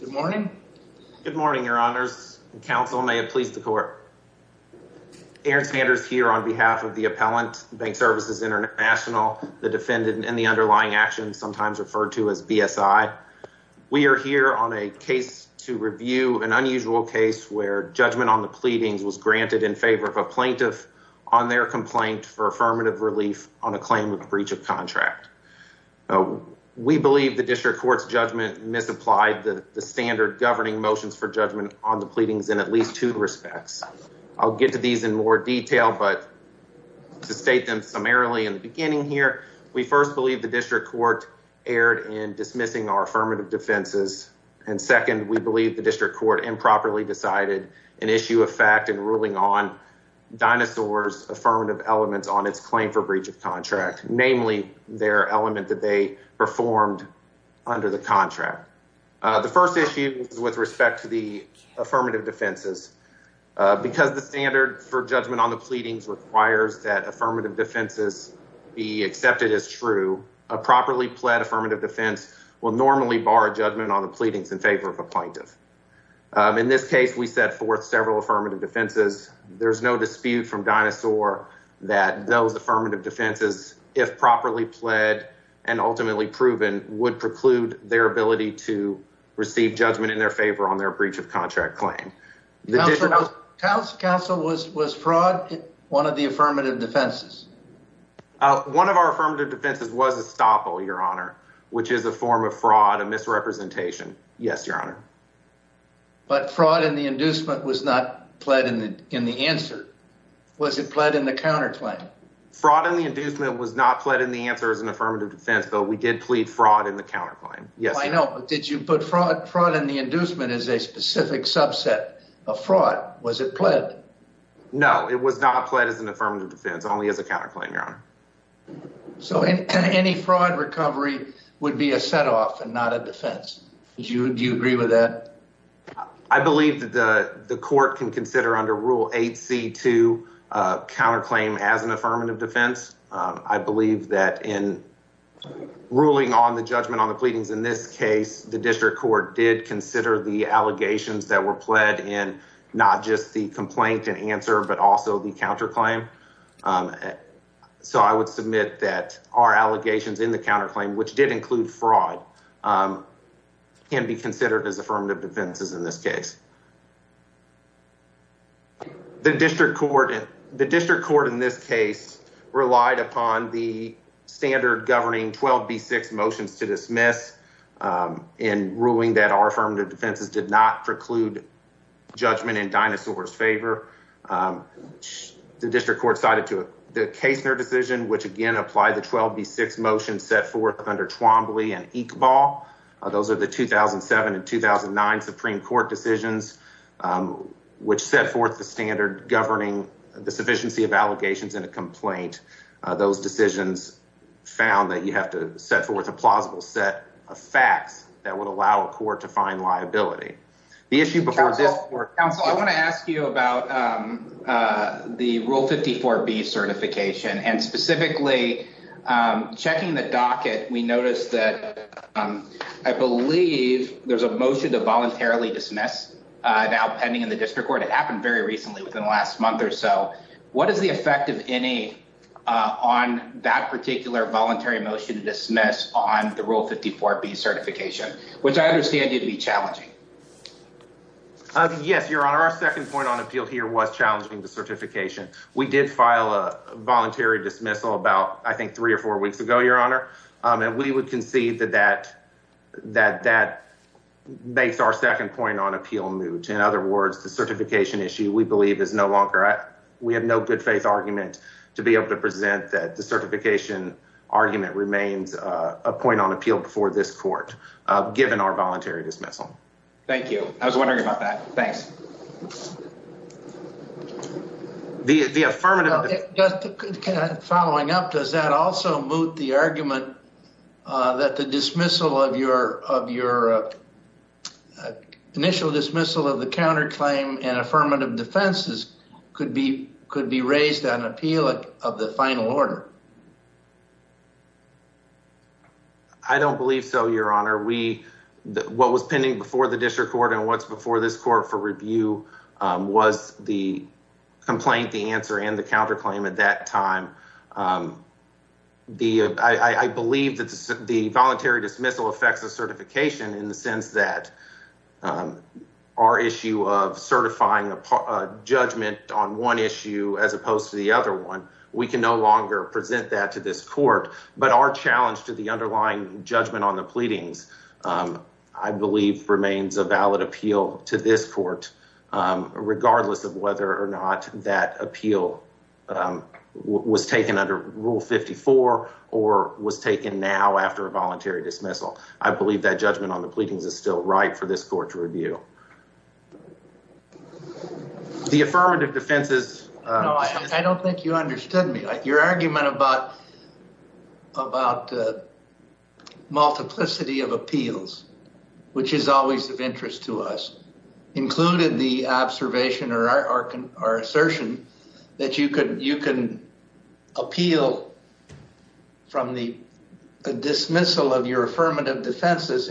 Good morning. Good morning, your honors. The council may have pleased the court. Aaron Sanders here on behalf of the appellant, Bancservices International, the defendant, and the underlying action sometimes referred to as BSI. We are here on a case to review, an unusual case where judgment on the pleadings was granted in favor of a plaintiff on their complaint for affirmative relief on a claim of breach of contract. We believe the district court's judgment misapplied the standard governing motions for judgment on the pleadings in at least two respects. I'll get to these in more detail, but to state them summarily in the beginning here, we first believe the district court erred in dismissing our affirmative defenses, and second, we believe the district court improperly decided an issue of fact in ruling on Dinosaur's affirmative elements on its claim for their element that they performed under the contract. The first issue is with respect to the affirmative defenses. Because the standard for judgment on the pleadings requires that affirmative defenses be accepted as true, a properly pled affirmative defense will normally bar judgment on the pleadings in favor of a plaintiff. In this case, we set forth several affirmative defenses. There's no dispute from Dinosaur that those affirmative defenses, if properly pled and ultimately proven, would preclude their ability to receive judgment in their favor on their breach of contract claim. Council, was fraud one of the affirmative defenses? One of our affirmative defenses was a stopple, your honor, which is a form of fraud, a misrepresentation. Yes, your honor. But fraud in the inducement was not pled in the answer. Was it pled in the counterclaim? Fraud in the inducement was not pled in the answer as an affirmative defense, but we did plead fraud in the counterclaim. Yes, I know, but did you put fraud fraud in the inducement as a specific subset of fraud? Was it pled? No, it was not pled as an affirmative defense, only as a counterclaim, your honor. So any fraud recovery would be a setoff and not a defense. Do you agree with that? I believe that the court can consider under Rule 8c2 counterclaim as an affirmative defense. I believe that in ruling on the judgment on the pleadings in this case, the district court did consider the allegations that were pled in not just the complaint and answer, but also the counterclaim. So I would submit that our allegations in the counterclaim, which did include fraud, can be considered as affirmative defenses in this case. The district court in this case relied upon the standard governing 12b6 motions to dismiss in ruling that our affirmative defenses did not preclude judgment in Dinosaur's favor. The district court cited the Kastner decision, which again applied the 12b6 motion set forth under Twombly and Iqbal. Those are the 2007 and 2009 Supreme Court decisions, which set forth the standard governing the sufficiency of allegations in a complaint. Those decisions found that you have to set forth a plausible set of facts that would allow a court to find liability. The issue before this court... Counsel, I want to ask you about the Rule 54b certification and specifically checking the docket, we noticed that I believe there's a motion to now pending in the district court. It happened very recently within the last month or so. What is the effect of any on that particular voluntary motion to dismiss on the Rule 54b certification, which I understand need to be challenging? Yes, your honor. Our second point on appeal here was challenging the certification. We did file a voluntary dismissal about I think three or four weeks ago, your honor, and we would concede that that makes our second point on appeal moot. In other words, the certification issue we believe is no longer... We have no good faith argument to be able to present that the certification argument remains a point on appeal before this court, given our voluntary dismissal. Thank you. I was wondering about that. Thanks. The affirmative... Following up, does that also moot the argument that the dismissal of your initial dismissal of the counterclaim and affirmative defenses could be could be raised on appeal of the final order? I don't believe so, your honor. What was pending before the district court and what's before this court for review was the complaint, the answer, and the counterclaim at that time. I believe that the voluntary dismissal affects the certification in the sense that our issue of certifying a judgment on one issue as opposed to the other one, we can no longer present that to this court, but our challenge to the underlying judgment on the pleadings I believe remains a valid appeal to this court, regardless of whether or not that appeal was taken under Rule 54 or was taken now after a voluntary dismissal. I believe that on the pleadings is still right for this court to review. The affirmative defenses... I don't think you understood me. Your argument about multiplicity of appeals, which is always of interest to us, included the observation or our assertion that you can appeal from the dismissal of your affirmative defenses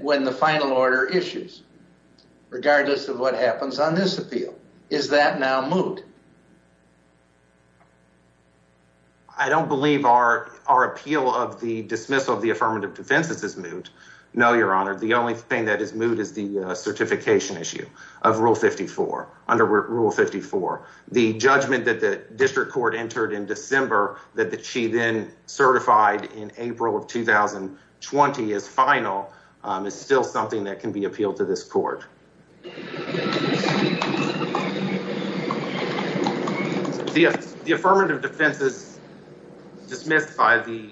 when the final order issues, regardless of what happens on this appeal. Is that now moot? I don't believe our appeal of the dismissal of the affirmative defenses is moot. No, your honor. The only thing that is moot is the certification issue of Rule 54. Under Rule 54, the judgment that the district court entered in December that she then certified in April of 2020 as final is still something that can be appealed to this court. The affirmative defenses dismissed by the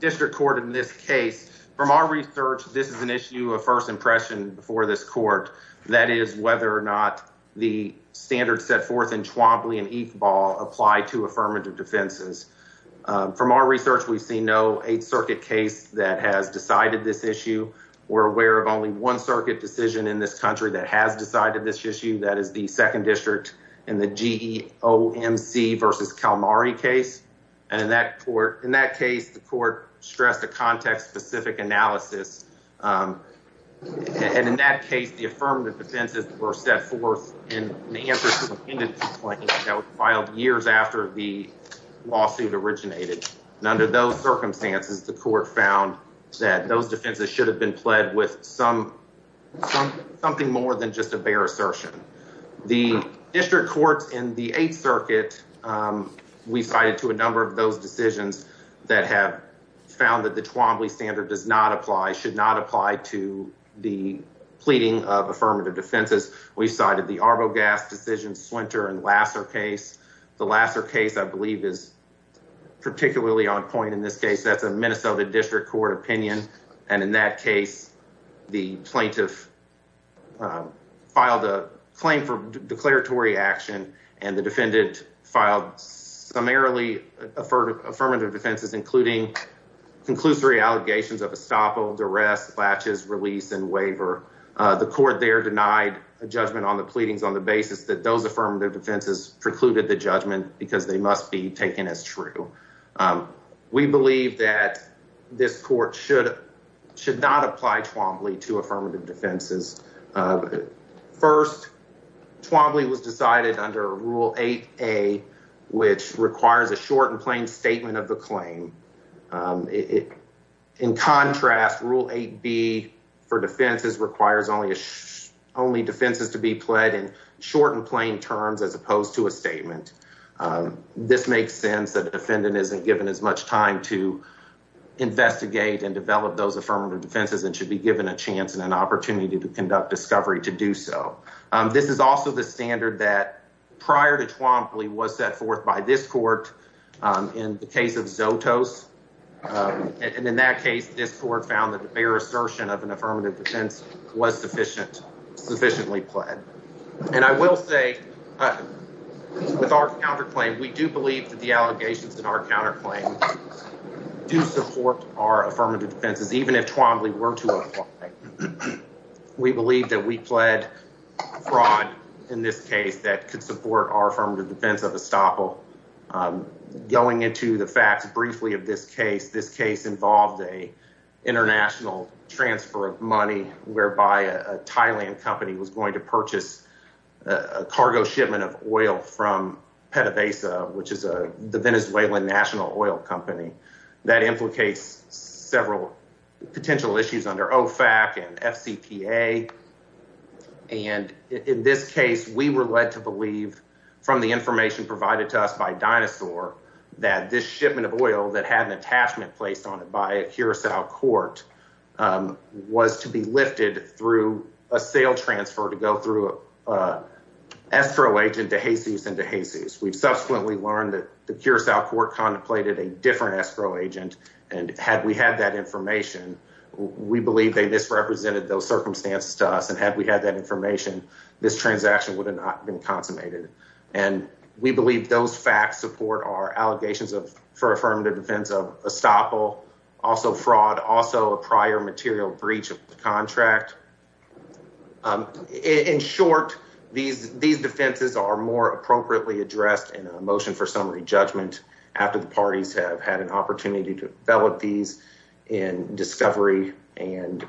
district court in this case, from our research, this is an issue of first impression for this court. That is whether or not the standards set forth in Chwampli and Eqbal apply to affirmative defenses. From our research, we've seen no Eighth Circuit case that has decided this issue. We're aware of only one circuit decision in this country that has decided this issue. That is the second district in the GEOMC versus Calamari case. And in that case, the court stressed a context-specific analysis. And in that case, the affirmative defenses were set forth in the answer to the pendency claim that was filed years after the lawsuit originated. And under those circumstances, the court found that those defenses should have been pled with something more than just a bare assertion. The district courts in the Eighth Circuit, we cited to a that have found that the Chwampli standard does not apply, should not apply to the pleading of affirmative defenses. We cited the Arbogast decision, Swinter and Lasser case. The Lasser case, I believe, is particularly on point in this case. That's a Minnesota district court opinion. And in that case, the plaintiff filed a claim for declaratory action and the defendant filed summarily affirmative defenses, including conclusory allegations of estoppel, duress, latches, release, and waiver. The court there denied a judgment on the pleadings on the basis that those affirmative defenses precluded the judgment because they must be taken as true. We believe that this court should not apply Chwampli to affirmative defenses. First, Chwampli was decided under Rule 8A, which requires a short and plain statement of the claim. In contrast, Rule 8B for defenses requires only defenses to be pled in short and plain terms as opposed to a statement. This makes sense that the defendant isn't given as much time to investigate and develop those affirmative defenses and should be given a chance and conduct discovery to do so. This is also the standard that prior to Chwampli was set forth by this court in the case of Zotos. And in that case, this court found that the bare assertion of an affirmative defense was sufficiently pled. And I will say with our counterclaim, we do believe that the allegations in our counterclaim do support our affirmative defenses, even if Chwampli were to apply. We believe that we pled fraud in this case that could support our affirmative defense of estoppel. Going into the facts briefly of this case, this case involved a international transfer of money whereby a Thailand company was going to purchase a cargo shipment of potential issues under OFAC and FCPA. And in this case, we were led to believe from the information provided to us by Dinosaur that this shipment of oil that had an attachment placed on it by a Curaçao court was to be lifted through a sale transfer to go through an escrow agent to Jesus and to Jesus. We've subsequently learned that the Curaçao court contemplated a different escrow agent. And had we had that information, we believe they misrepresented those circumstances to us. And had we had that information, this transaction would have not been consummated. And we believe those facts support our allegations for affirmative defense of estoppel, also fraud, also a prior material breach of the contract. In short, these defenses are more than just an excuse for us to have the opportunity to develop these in discovery and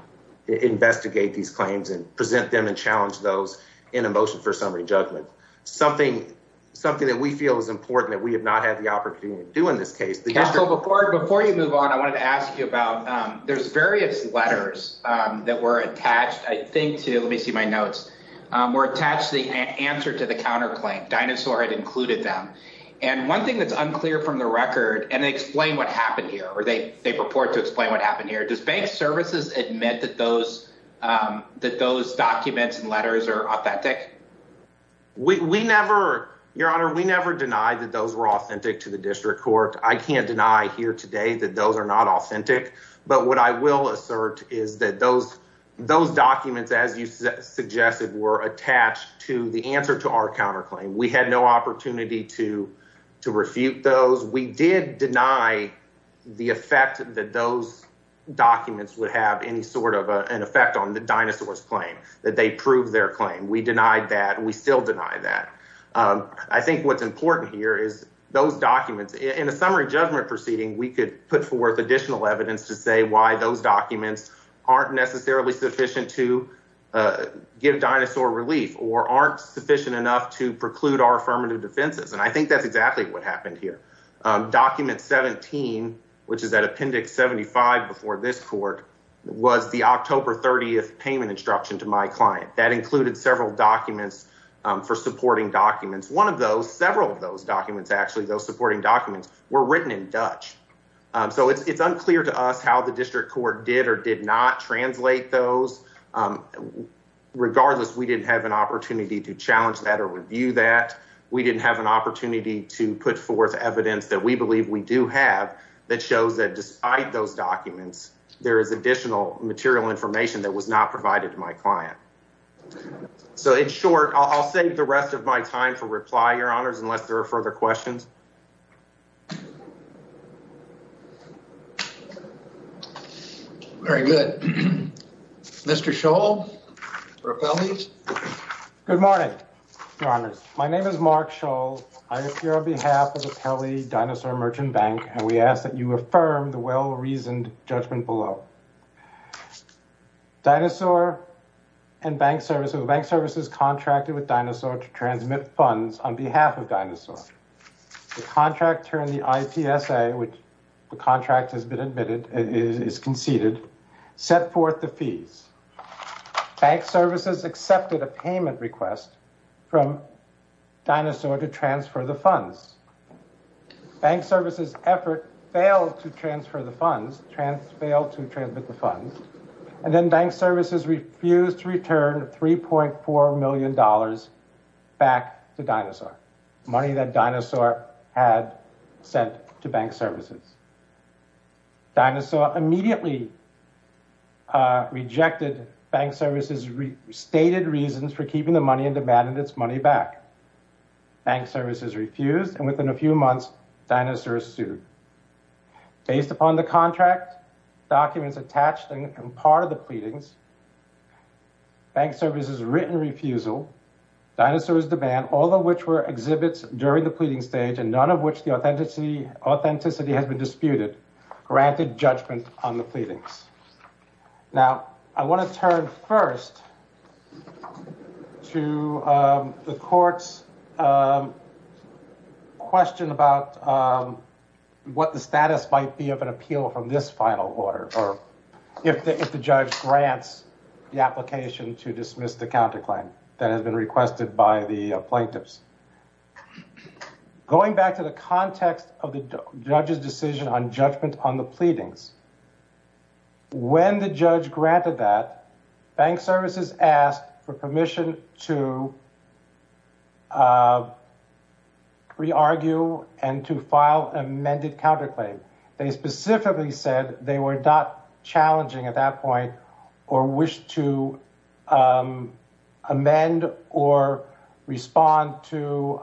investigate these claims and present them and challenge those in a motion for summary judgment. Something that we feel is important that we have not had the opportunity to do in this case. Yeah, so before you move on, I wanted to ask you about, there's various letters that were attached, I think to, let me see my notes, were attached to the answer to the counterclaim. Dinosaur had they purport to explain what happened here. Does bank services admit that those documents and letters are authentic? Your honor, we never denied that those were authentic to the district court. I can't deny here today that those are not authentic. But what I will assert is that those documents, as you suggested, were attached to the answer to our counterclaim. We had no opportunity to the effect that those documents would have any sort of an effect on the dinosaur's claim, that they proved their claim. We denied that. We still deny that. I think what's important here is those documents in a summary judgment proceeding, we could put forth additional evidence to say why those documents aren't necessarily sufficient to give dinosaur relief or aren't sufficient enough to preclude our affirmative defenses. And I think that's exactly what happened here. Document 17, which is that appendix 75 before this court, was the October 30th payment instruction to my client. That included several documents for supporting documents. One of those, several of those documents, actually, those supporting documents were written in Dutch. So it's unclear to us how the district court did or did not translate those. Regardless, we didn't have an that we believe we do have that shows that despite those documents, there is additional material information that was not provided to my client. So in short, I'll save the rest of my time for reply, Your Honors, unless there are further questions. Very good. Mr. Scholl for Dinosaur Merchant Bank, and we ask that you affirm the well-reasoned judgment below. Dinosaur and Bank Services, Bank Services contracted with Dinosaur to transmit funds on behalf of Dinosaur. The contractor in the IPSA, which the contract has been admitted, is conceded, set forth the fees. Bank Services accepted a payment request from Dinosaur to Bank Services. Effort failed to transfer the funds, failed to transmit the funds, and then Bank Services refused to return $3.4 million back to Dinosaur, money that Dinosaur had sent to Bank Services. Dinosaur immediately rejected Bank Services' stated reasons for keeping the money and demanded its money back. Bank Services refused, and within a few months, Dinosaur sued. Based upon the contract documents attached and part of the pleadings, Bank Services' written refusal, Dinosaur's demand, all of which were exhibits during the pleading stage and none of which the authenticity has been disputed, granted judgment on the pleadings. Now, I want to turn first to the court's question about what the status might be of an appeal from this final order or if the judge grants the application to dismiss the counterclaim that has been requested by the plaintiffs. Going back to the context of the judge's decision on judgment on the pleadings, when the judge granted that, Bank Services asked for permission to re-argue and to file amended counterclaim. They specifically said they were not challenging at that point or wished to amend or respond to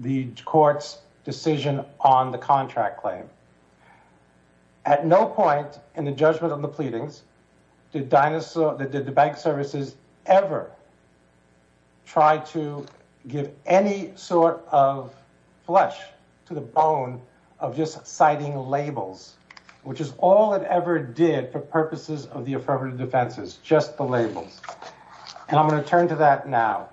the court's decision on the contract claim. At no point in the judgment on the pleadings did the Bank Services ever try to give any sort of flesh to the bone of just citing labels, which is all it ever did for purposes of the affirmative defenses, just the labels. And I'm going to turn to that now.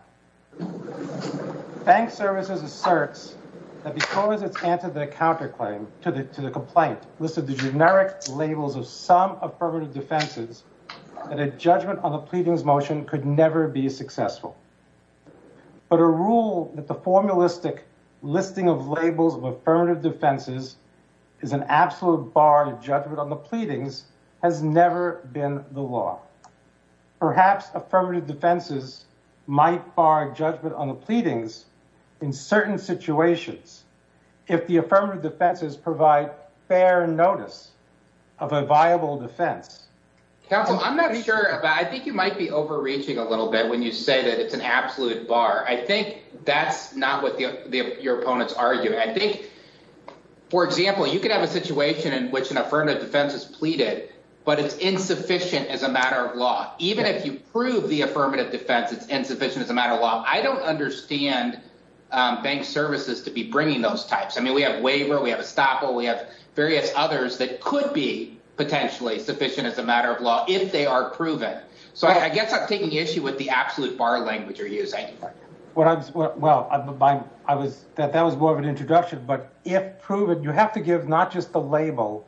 Bank Services asserts that because it's answered the counterclaim to the complaint, listed the generic labels of some affirmative defenses, that a judgment on the pleadings motion could never be successful. But a rule that the formulistic listing of labels of affirmative defenses is an absolute bar to judgment on the pleadings has never been the law. Perhaps affirmative defenses might bar judgment on the pleadings in certain situations if the affirmative defenses provide fair notice of a viable defense. Counsel, I'm not sure, but I think you might be overreaching a little bit when you say that it's an absolute bar. I think that's not what your opponents argue. I think, for example, you could have a situation in which an affirmative defense is pleaded, but it's insufficient as a matter of law. Even if you prove the affirmative defense, it's insufficient as a matter of law. I don't understand Bank Services to be bringing those types. I mean, we have waiver, we have estoppel, we have various others that could be potentially sufficient as a matter of law if they are proven. So I guess I'm taking issue with the absolute bar language you're using. Well, that was more of an introduction. But if proven, you have to give not just the label,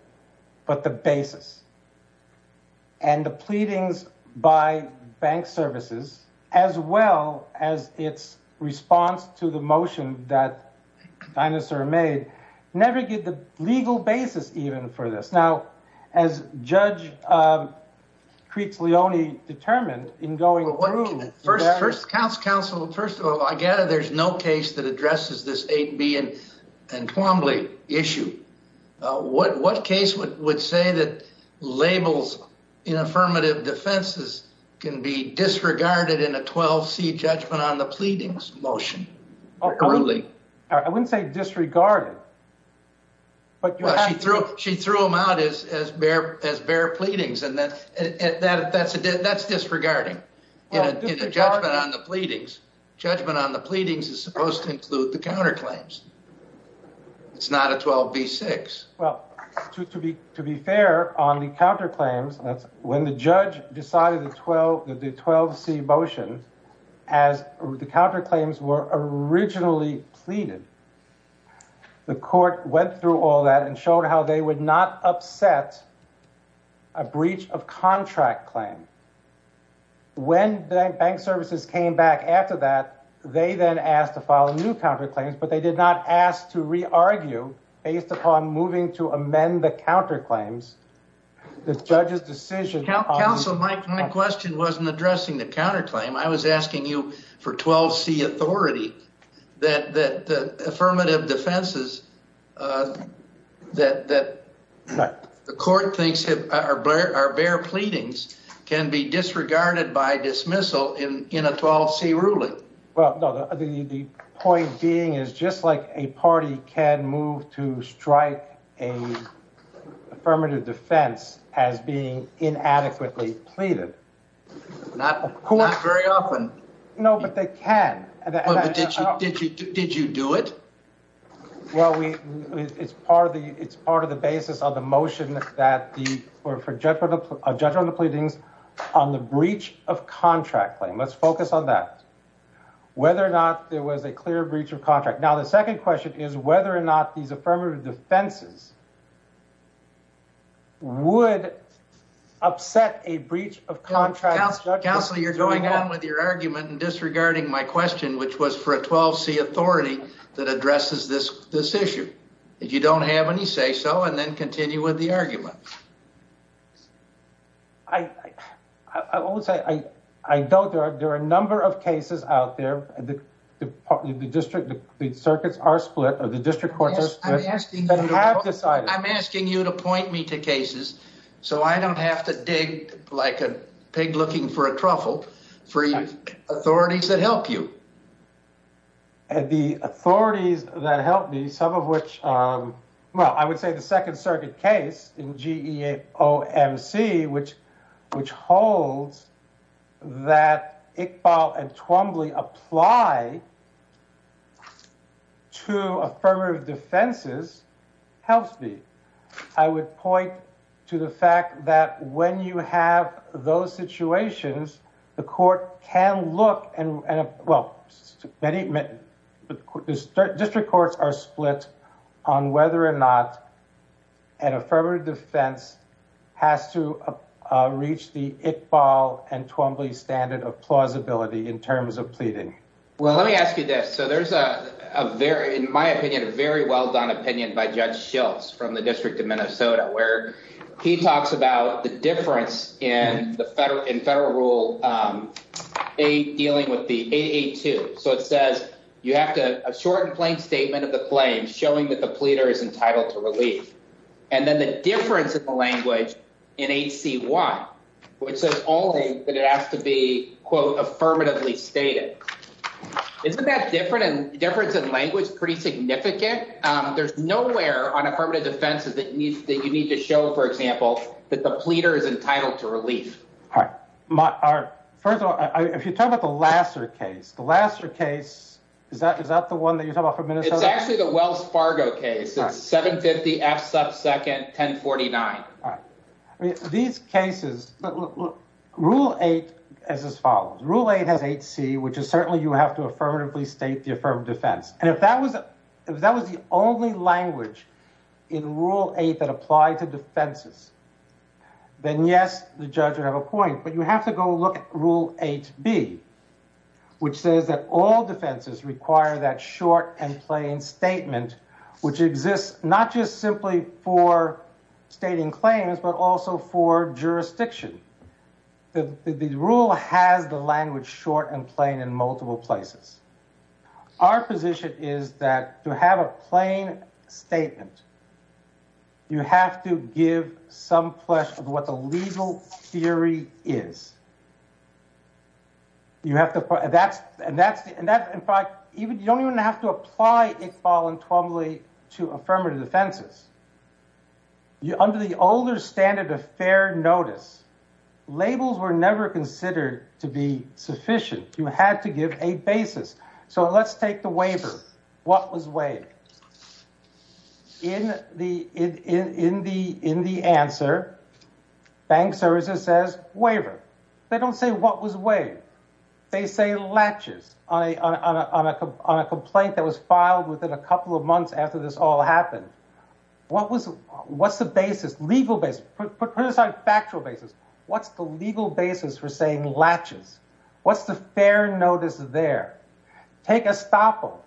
but the basis. And the pleadings by Bank Services, as well as its response to the motion that Dinosaur made, never give the legal basis, even, for this. Now, as Judge Kreitz-Leone determined in going through that. Counsel, first of all, I gather there's no case that addresses this 8B and Twombly issue. What case would say that labels in affirmative defenses can be disregarded in a 12C judgment on the pleadings motion? I wouldn't say disregarded. Well, she threw them out as bare pleadings, and that's disregarding in a judgment on the pleadings. Judgment on the pleadings is supposed to include the counterclaims. It's not a 12B-6. Well, to be fair, on the counterclaims, when the judge decided the 12C motion, as the counterclaims were originally pleaded, the court went through all that and showed how they would not upset a breach of contract claim. When Bank Services came back after that, they then asked to file a new counterclaims, but they did not ask to re-argue based upon moving to amend the counterclaims. The judge's decision on... I was asking you for 12C authority that the affirmative defenses that the court thinks are bare pleadings can be disregarded by dismissal in a 12C ruling. Well, no, the point being is just like a party can move to strike a affirmative defense as being inadequately pleaded. Not very often. No, but they can. Did you do it? Well, it's part of the basis of the motion that the... for judgment on the pleadings on the breach of contract claim. Let's focus on that. Whether or not there was a clear breach of contract. Now, the second question is whether or not these affirmative defenses would upset a breach of contract... Counselor, you're going on with your argument and disregarding my question, which was for a 12C authority that addresses this issue. If you don't have any, say so, and then continue with the argument. I always say I don't. There are a number of cases out there. The district, the circuits are split, the district courts are split, but I have decided... I'm asking you to point me to cases so I don't have to dig like a pig looking for a truffle for authorities that help you. The authorities that help me, some of which, well, I would say the Second Circuit case in two affirmative defenses helps me. I would point to the fact that when you have those situations, the court can look and... well, many... district courts are split on whether or not an affirmative defense has to reach the Iqbal and Twombly standard of plausibility in terms of pleading. Well, let me ask you this. So there's a very, in my opinion, a very well done opinion by Judge Schiltz from the District of Minnesota, where he talks about the difference in federal rule dealing with the 882. So it says you have to... a short and plain statement of the claim showing that the pleader is entitled to relief. And then the difference in the language in 8C1, which says only that it has to be, quote, affirmatively stated. Isn't that difference in language pretty significant? There's nowhere on affirmative defenses that you need to show, for example, that the pleader is entitled to relief. All right. First of all, if you talk about the Lasser case, the Lasser case, is that the one that you're talking about from Minnesota? It's actually the Wells Fargo case. It's 750 F sub second 1049. All right. These cases... Rule 8 is as follows. Rule 8 has 8C, which is certainly you have to affirmatively state the affirmed defense. And if that was the only language in Rule 8 that applied to defenses, then yes, the judge would have a point. But you have to go look at Rule 8B, which says that all defenses require that short and plain statement, which exists not just simply for stating claims but also for jurisdiction. The rule has the language short and plain in multiple places. Our position is that to have a plain statement, you have to give some flesh of what the legal theory is. You have to... And that's... In fact, you don't even have to apply Iqbal and Twombly to affirmative defenses. Under the older standard of fair notice, labels were never considered to be sufficient. You had to give a basis. So let's take the waiver. What was waived? In the answer, bank services says waiver. They don't say what was waived. They say latches on a complaint that was filed within a couple of months after this all happened. What's the basis? Legal basis. Put aside factual basis. What's the legal basis for saying latches? What's the fair notice there? Take estoppel.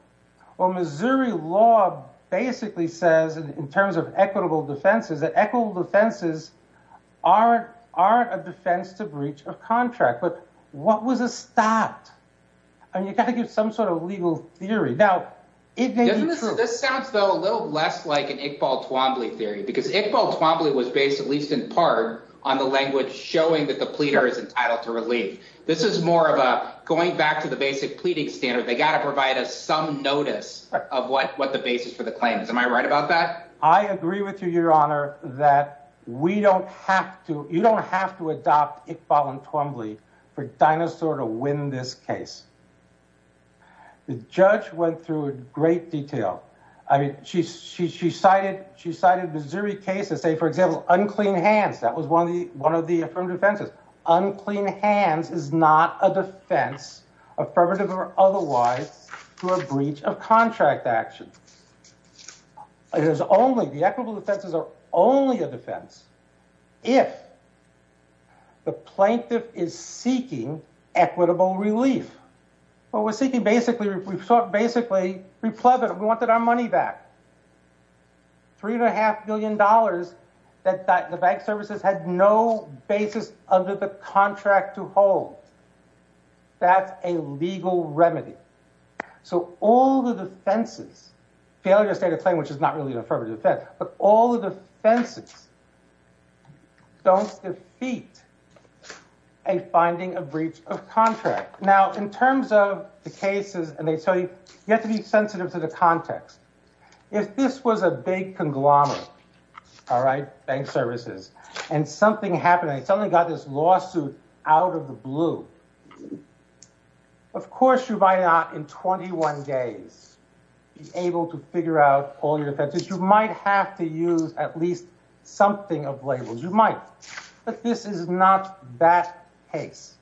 Well, Missouri law basically says, in terms of equitable defenses, that equitable defenses aren't a defense to breach of contract. But what was estopped? And you got to give some sort of legal theory. Now, it may be true. This sounds, though, a little less like an Iqbal-Twombly theory because Iqbal-Twombly was based, at least in part, on the language showing that the pleader is entitled to relief. This is more of a going back to the basic pleading standard. They got to provide us some notice of what the basis for the claim is. Am I right about that? I agree with you, your honor, that we don't have to, you don't have to adopt Iqbal-Twombly for Dinosaur to win this case. The judge went through it in great detail. I mean, she cited Missouri cases, say, for example, unclean hands. That was one of the affirmed defenses. Unclean hands is not a defense, affirmative or otherwise, to a breach of contract action. It is only, the equitable defenses are only a defense if the plaintiff is seeking equitable relief. Well, we're seeking basically, we sought basically, we pleaded, we wanted our money back. Three and a half billion dollars that the bank services had no basis under the contract to hold. That's a legal remedy. So all the defenses, failure to state a claim, which is not really an affirmative defense, but all the defenses don't defeat a finding of breach of contract. Now, in terms of the cases, and they tell you, you have to be sensitive to the context. If this was a big conglomerate, all right, bank services, and something happened, something got this lawsuit out of the blue. Of course, you might not, in 21 days, be able to figure out all your defenses. You might have to use at least something of labels. You might, but this is not that case.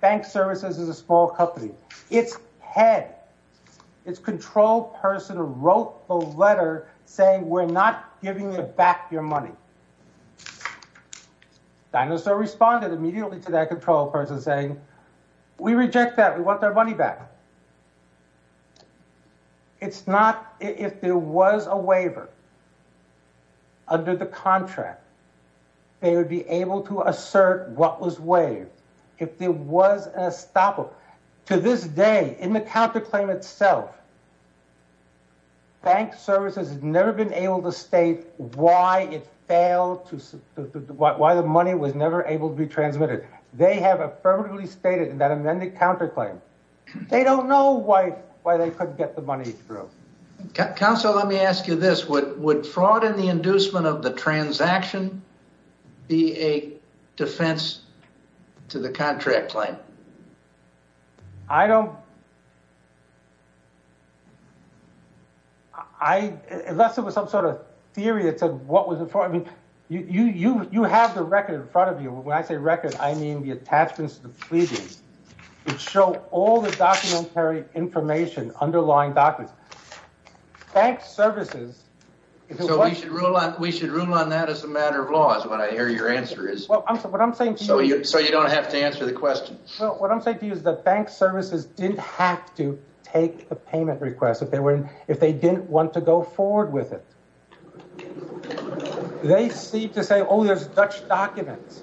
Bank services is a small company. Its head, its control person wrote the letter saying, we're not giving you back your money. Dinosaur responded immediately to that control person saying, we reject that. We want their money back. It's not, if there was a waiver under the contract, they would be able to assert what was waived. If there was a stopper, to this day, in the counterclaim itself, bank services has never been able to state why it failed, why the money was never able to be transmitted. They have affirmatively stated in that amended counterclaim. They don't know why they couldn't get the money through. Counsel, let me ask you this. Would fraud in the inducement of a transaction be a defense to the contract claim? I don't. Unless it was some sort of theory that said what was it for. You have the record in front of you. When I say record, I mean the attachments to the pleadings. It showed all the documentary information, underlying documents. Bank services. We should rule on that as a matter of law is what I hear your answer is. So you don't have to answer the question. What I'm saying to you is that bank services didn't have to take the payment request if they didn't want to go forward with it. They seem to say, oh, there's Dutch documents.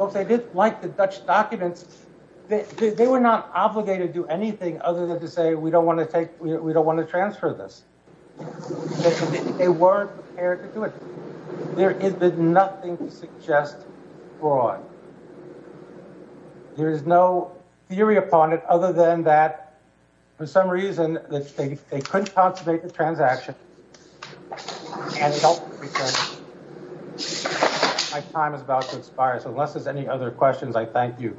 If they didn't like the Dutch documents, they were not obligated to do anything other than to say we don't want to transfer this. They were prepared to do it. There is nothing to suggest fraud. There is no theory upon it other than that for some reason they couldn't consummate the transaction. My time is about to expire. Unless there's any other questions, I thank you.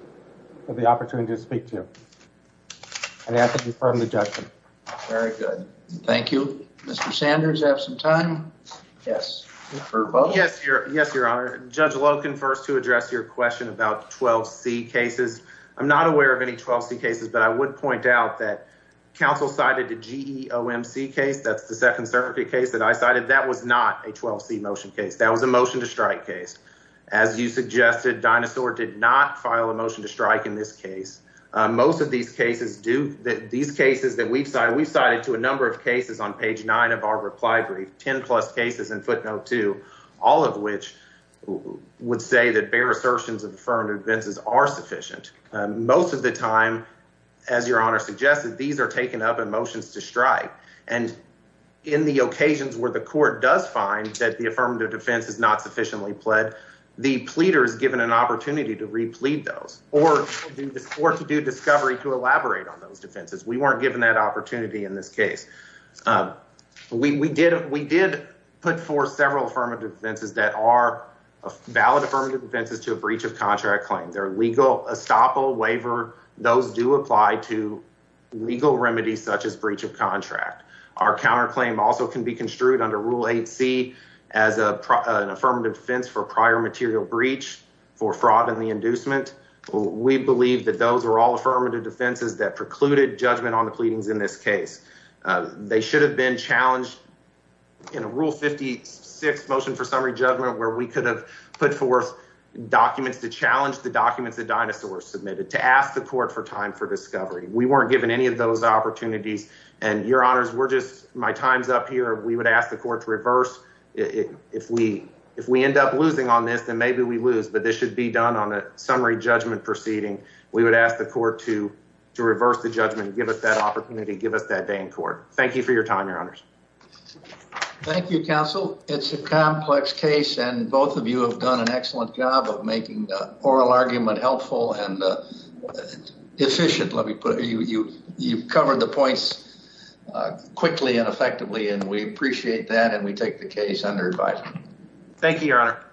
For the opportunity to speak to you. And I ask that you confirm the judgment. Very good. Thank you. Mr. Sanders, you have some time. Yes. Yes, your honor. Judge Loken, first to address your question about 12C cases. I'm not aware of any 12C cases, but I would point out that counsel cited the GEOMC case. That's the second circuit case that I cited. That was not a 12C motion case. That was a motion to strike case. As you suggested, Dinosaur did not file a motion to strike in this case. Most of these cases that we've cited, we've cited to a number of cases on page nine of our reply brief, 10 plus cases in footnote two, all of which would say that bare assertions of affirmative defenses are sufficient. Most of the time, as your honor suggested, these are taken up in motions to strike. And in the occasions where the court does find that the affirmative defense is not sufficiently pled, the pleader is given an opportunity to replead those or to do discovery to elaborate on those defenses. We weren't given that opportunity in this case. We did put forth several affirmative defenses that are valid affirmative defenses to a breach of contract claim. They're legal, estoppel, waiver. Those do apply to legal remedies such as breach of contract. Our counterclaim also can be construed under rule 8C as an affirmative defense for prior material breach for fraud and the inducement. We believe that those are all affirmative defenses that precluded judgment on the pleadings in this case. They should have been challenged in a rule 56 motion for summary judgment where we could have put forth documents to challenge the documents that Dinosaur submitted to ask the court for time for discovery. We weren't given any of those opportunities. And your honors, we're just, my time's up here. We would ask the court to reverse. If we end up losing on this, then maybe we lose, but this should be done on a summary judgment proceeding. We would ask the court to reverse the judgment and give us that opportunity, give us that day in court. Thank you for your time, your honors. Thank you, counsel. It's a complex case and both of you have done an excellent job of making the oral argument helpful and efficient, let me put it. You've covered the points quickly and effectively, and we appreciate that. And we take the case under advice. Thank you, your honor.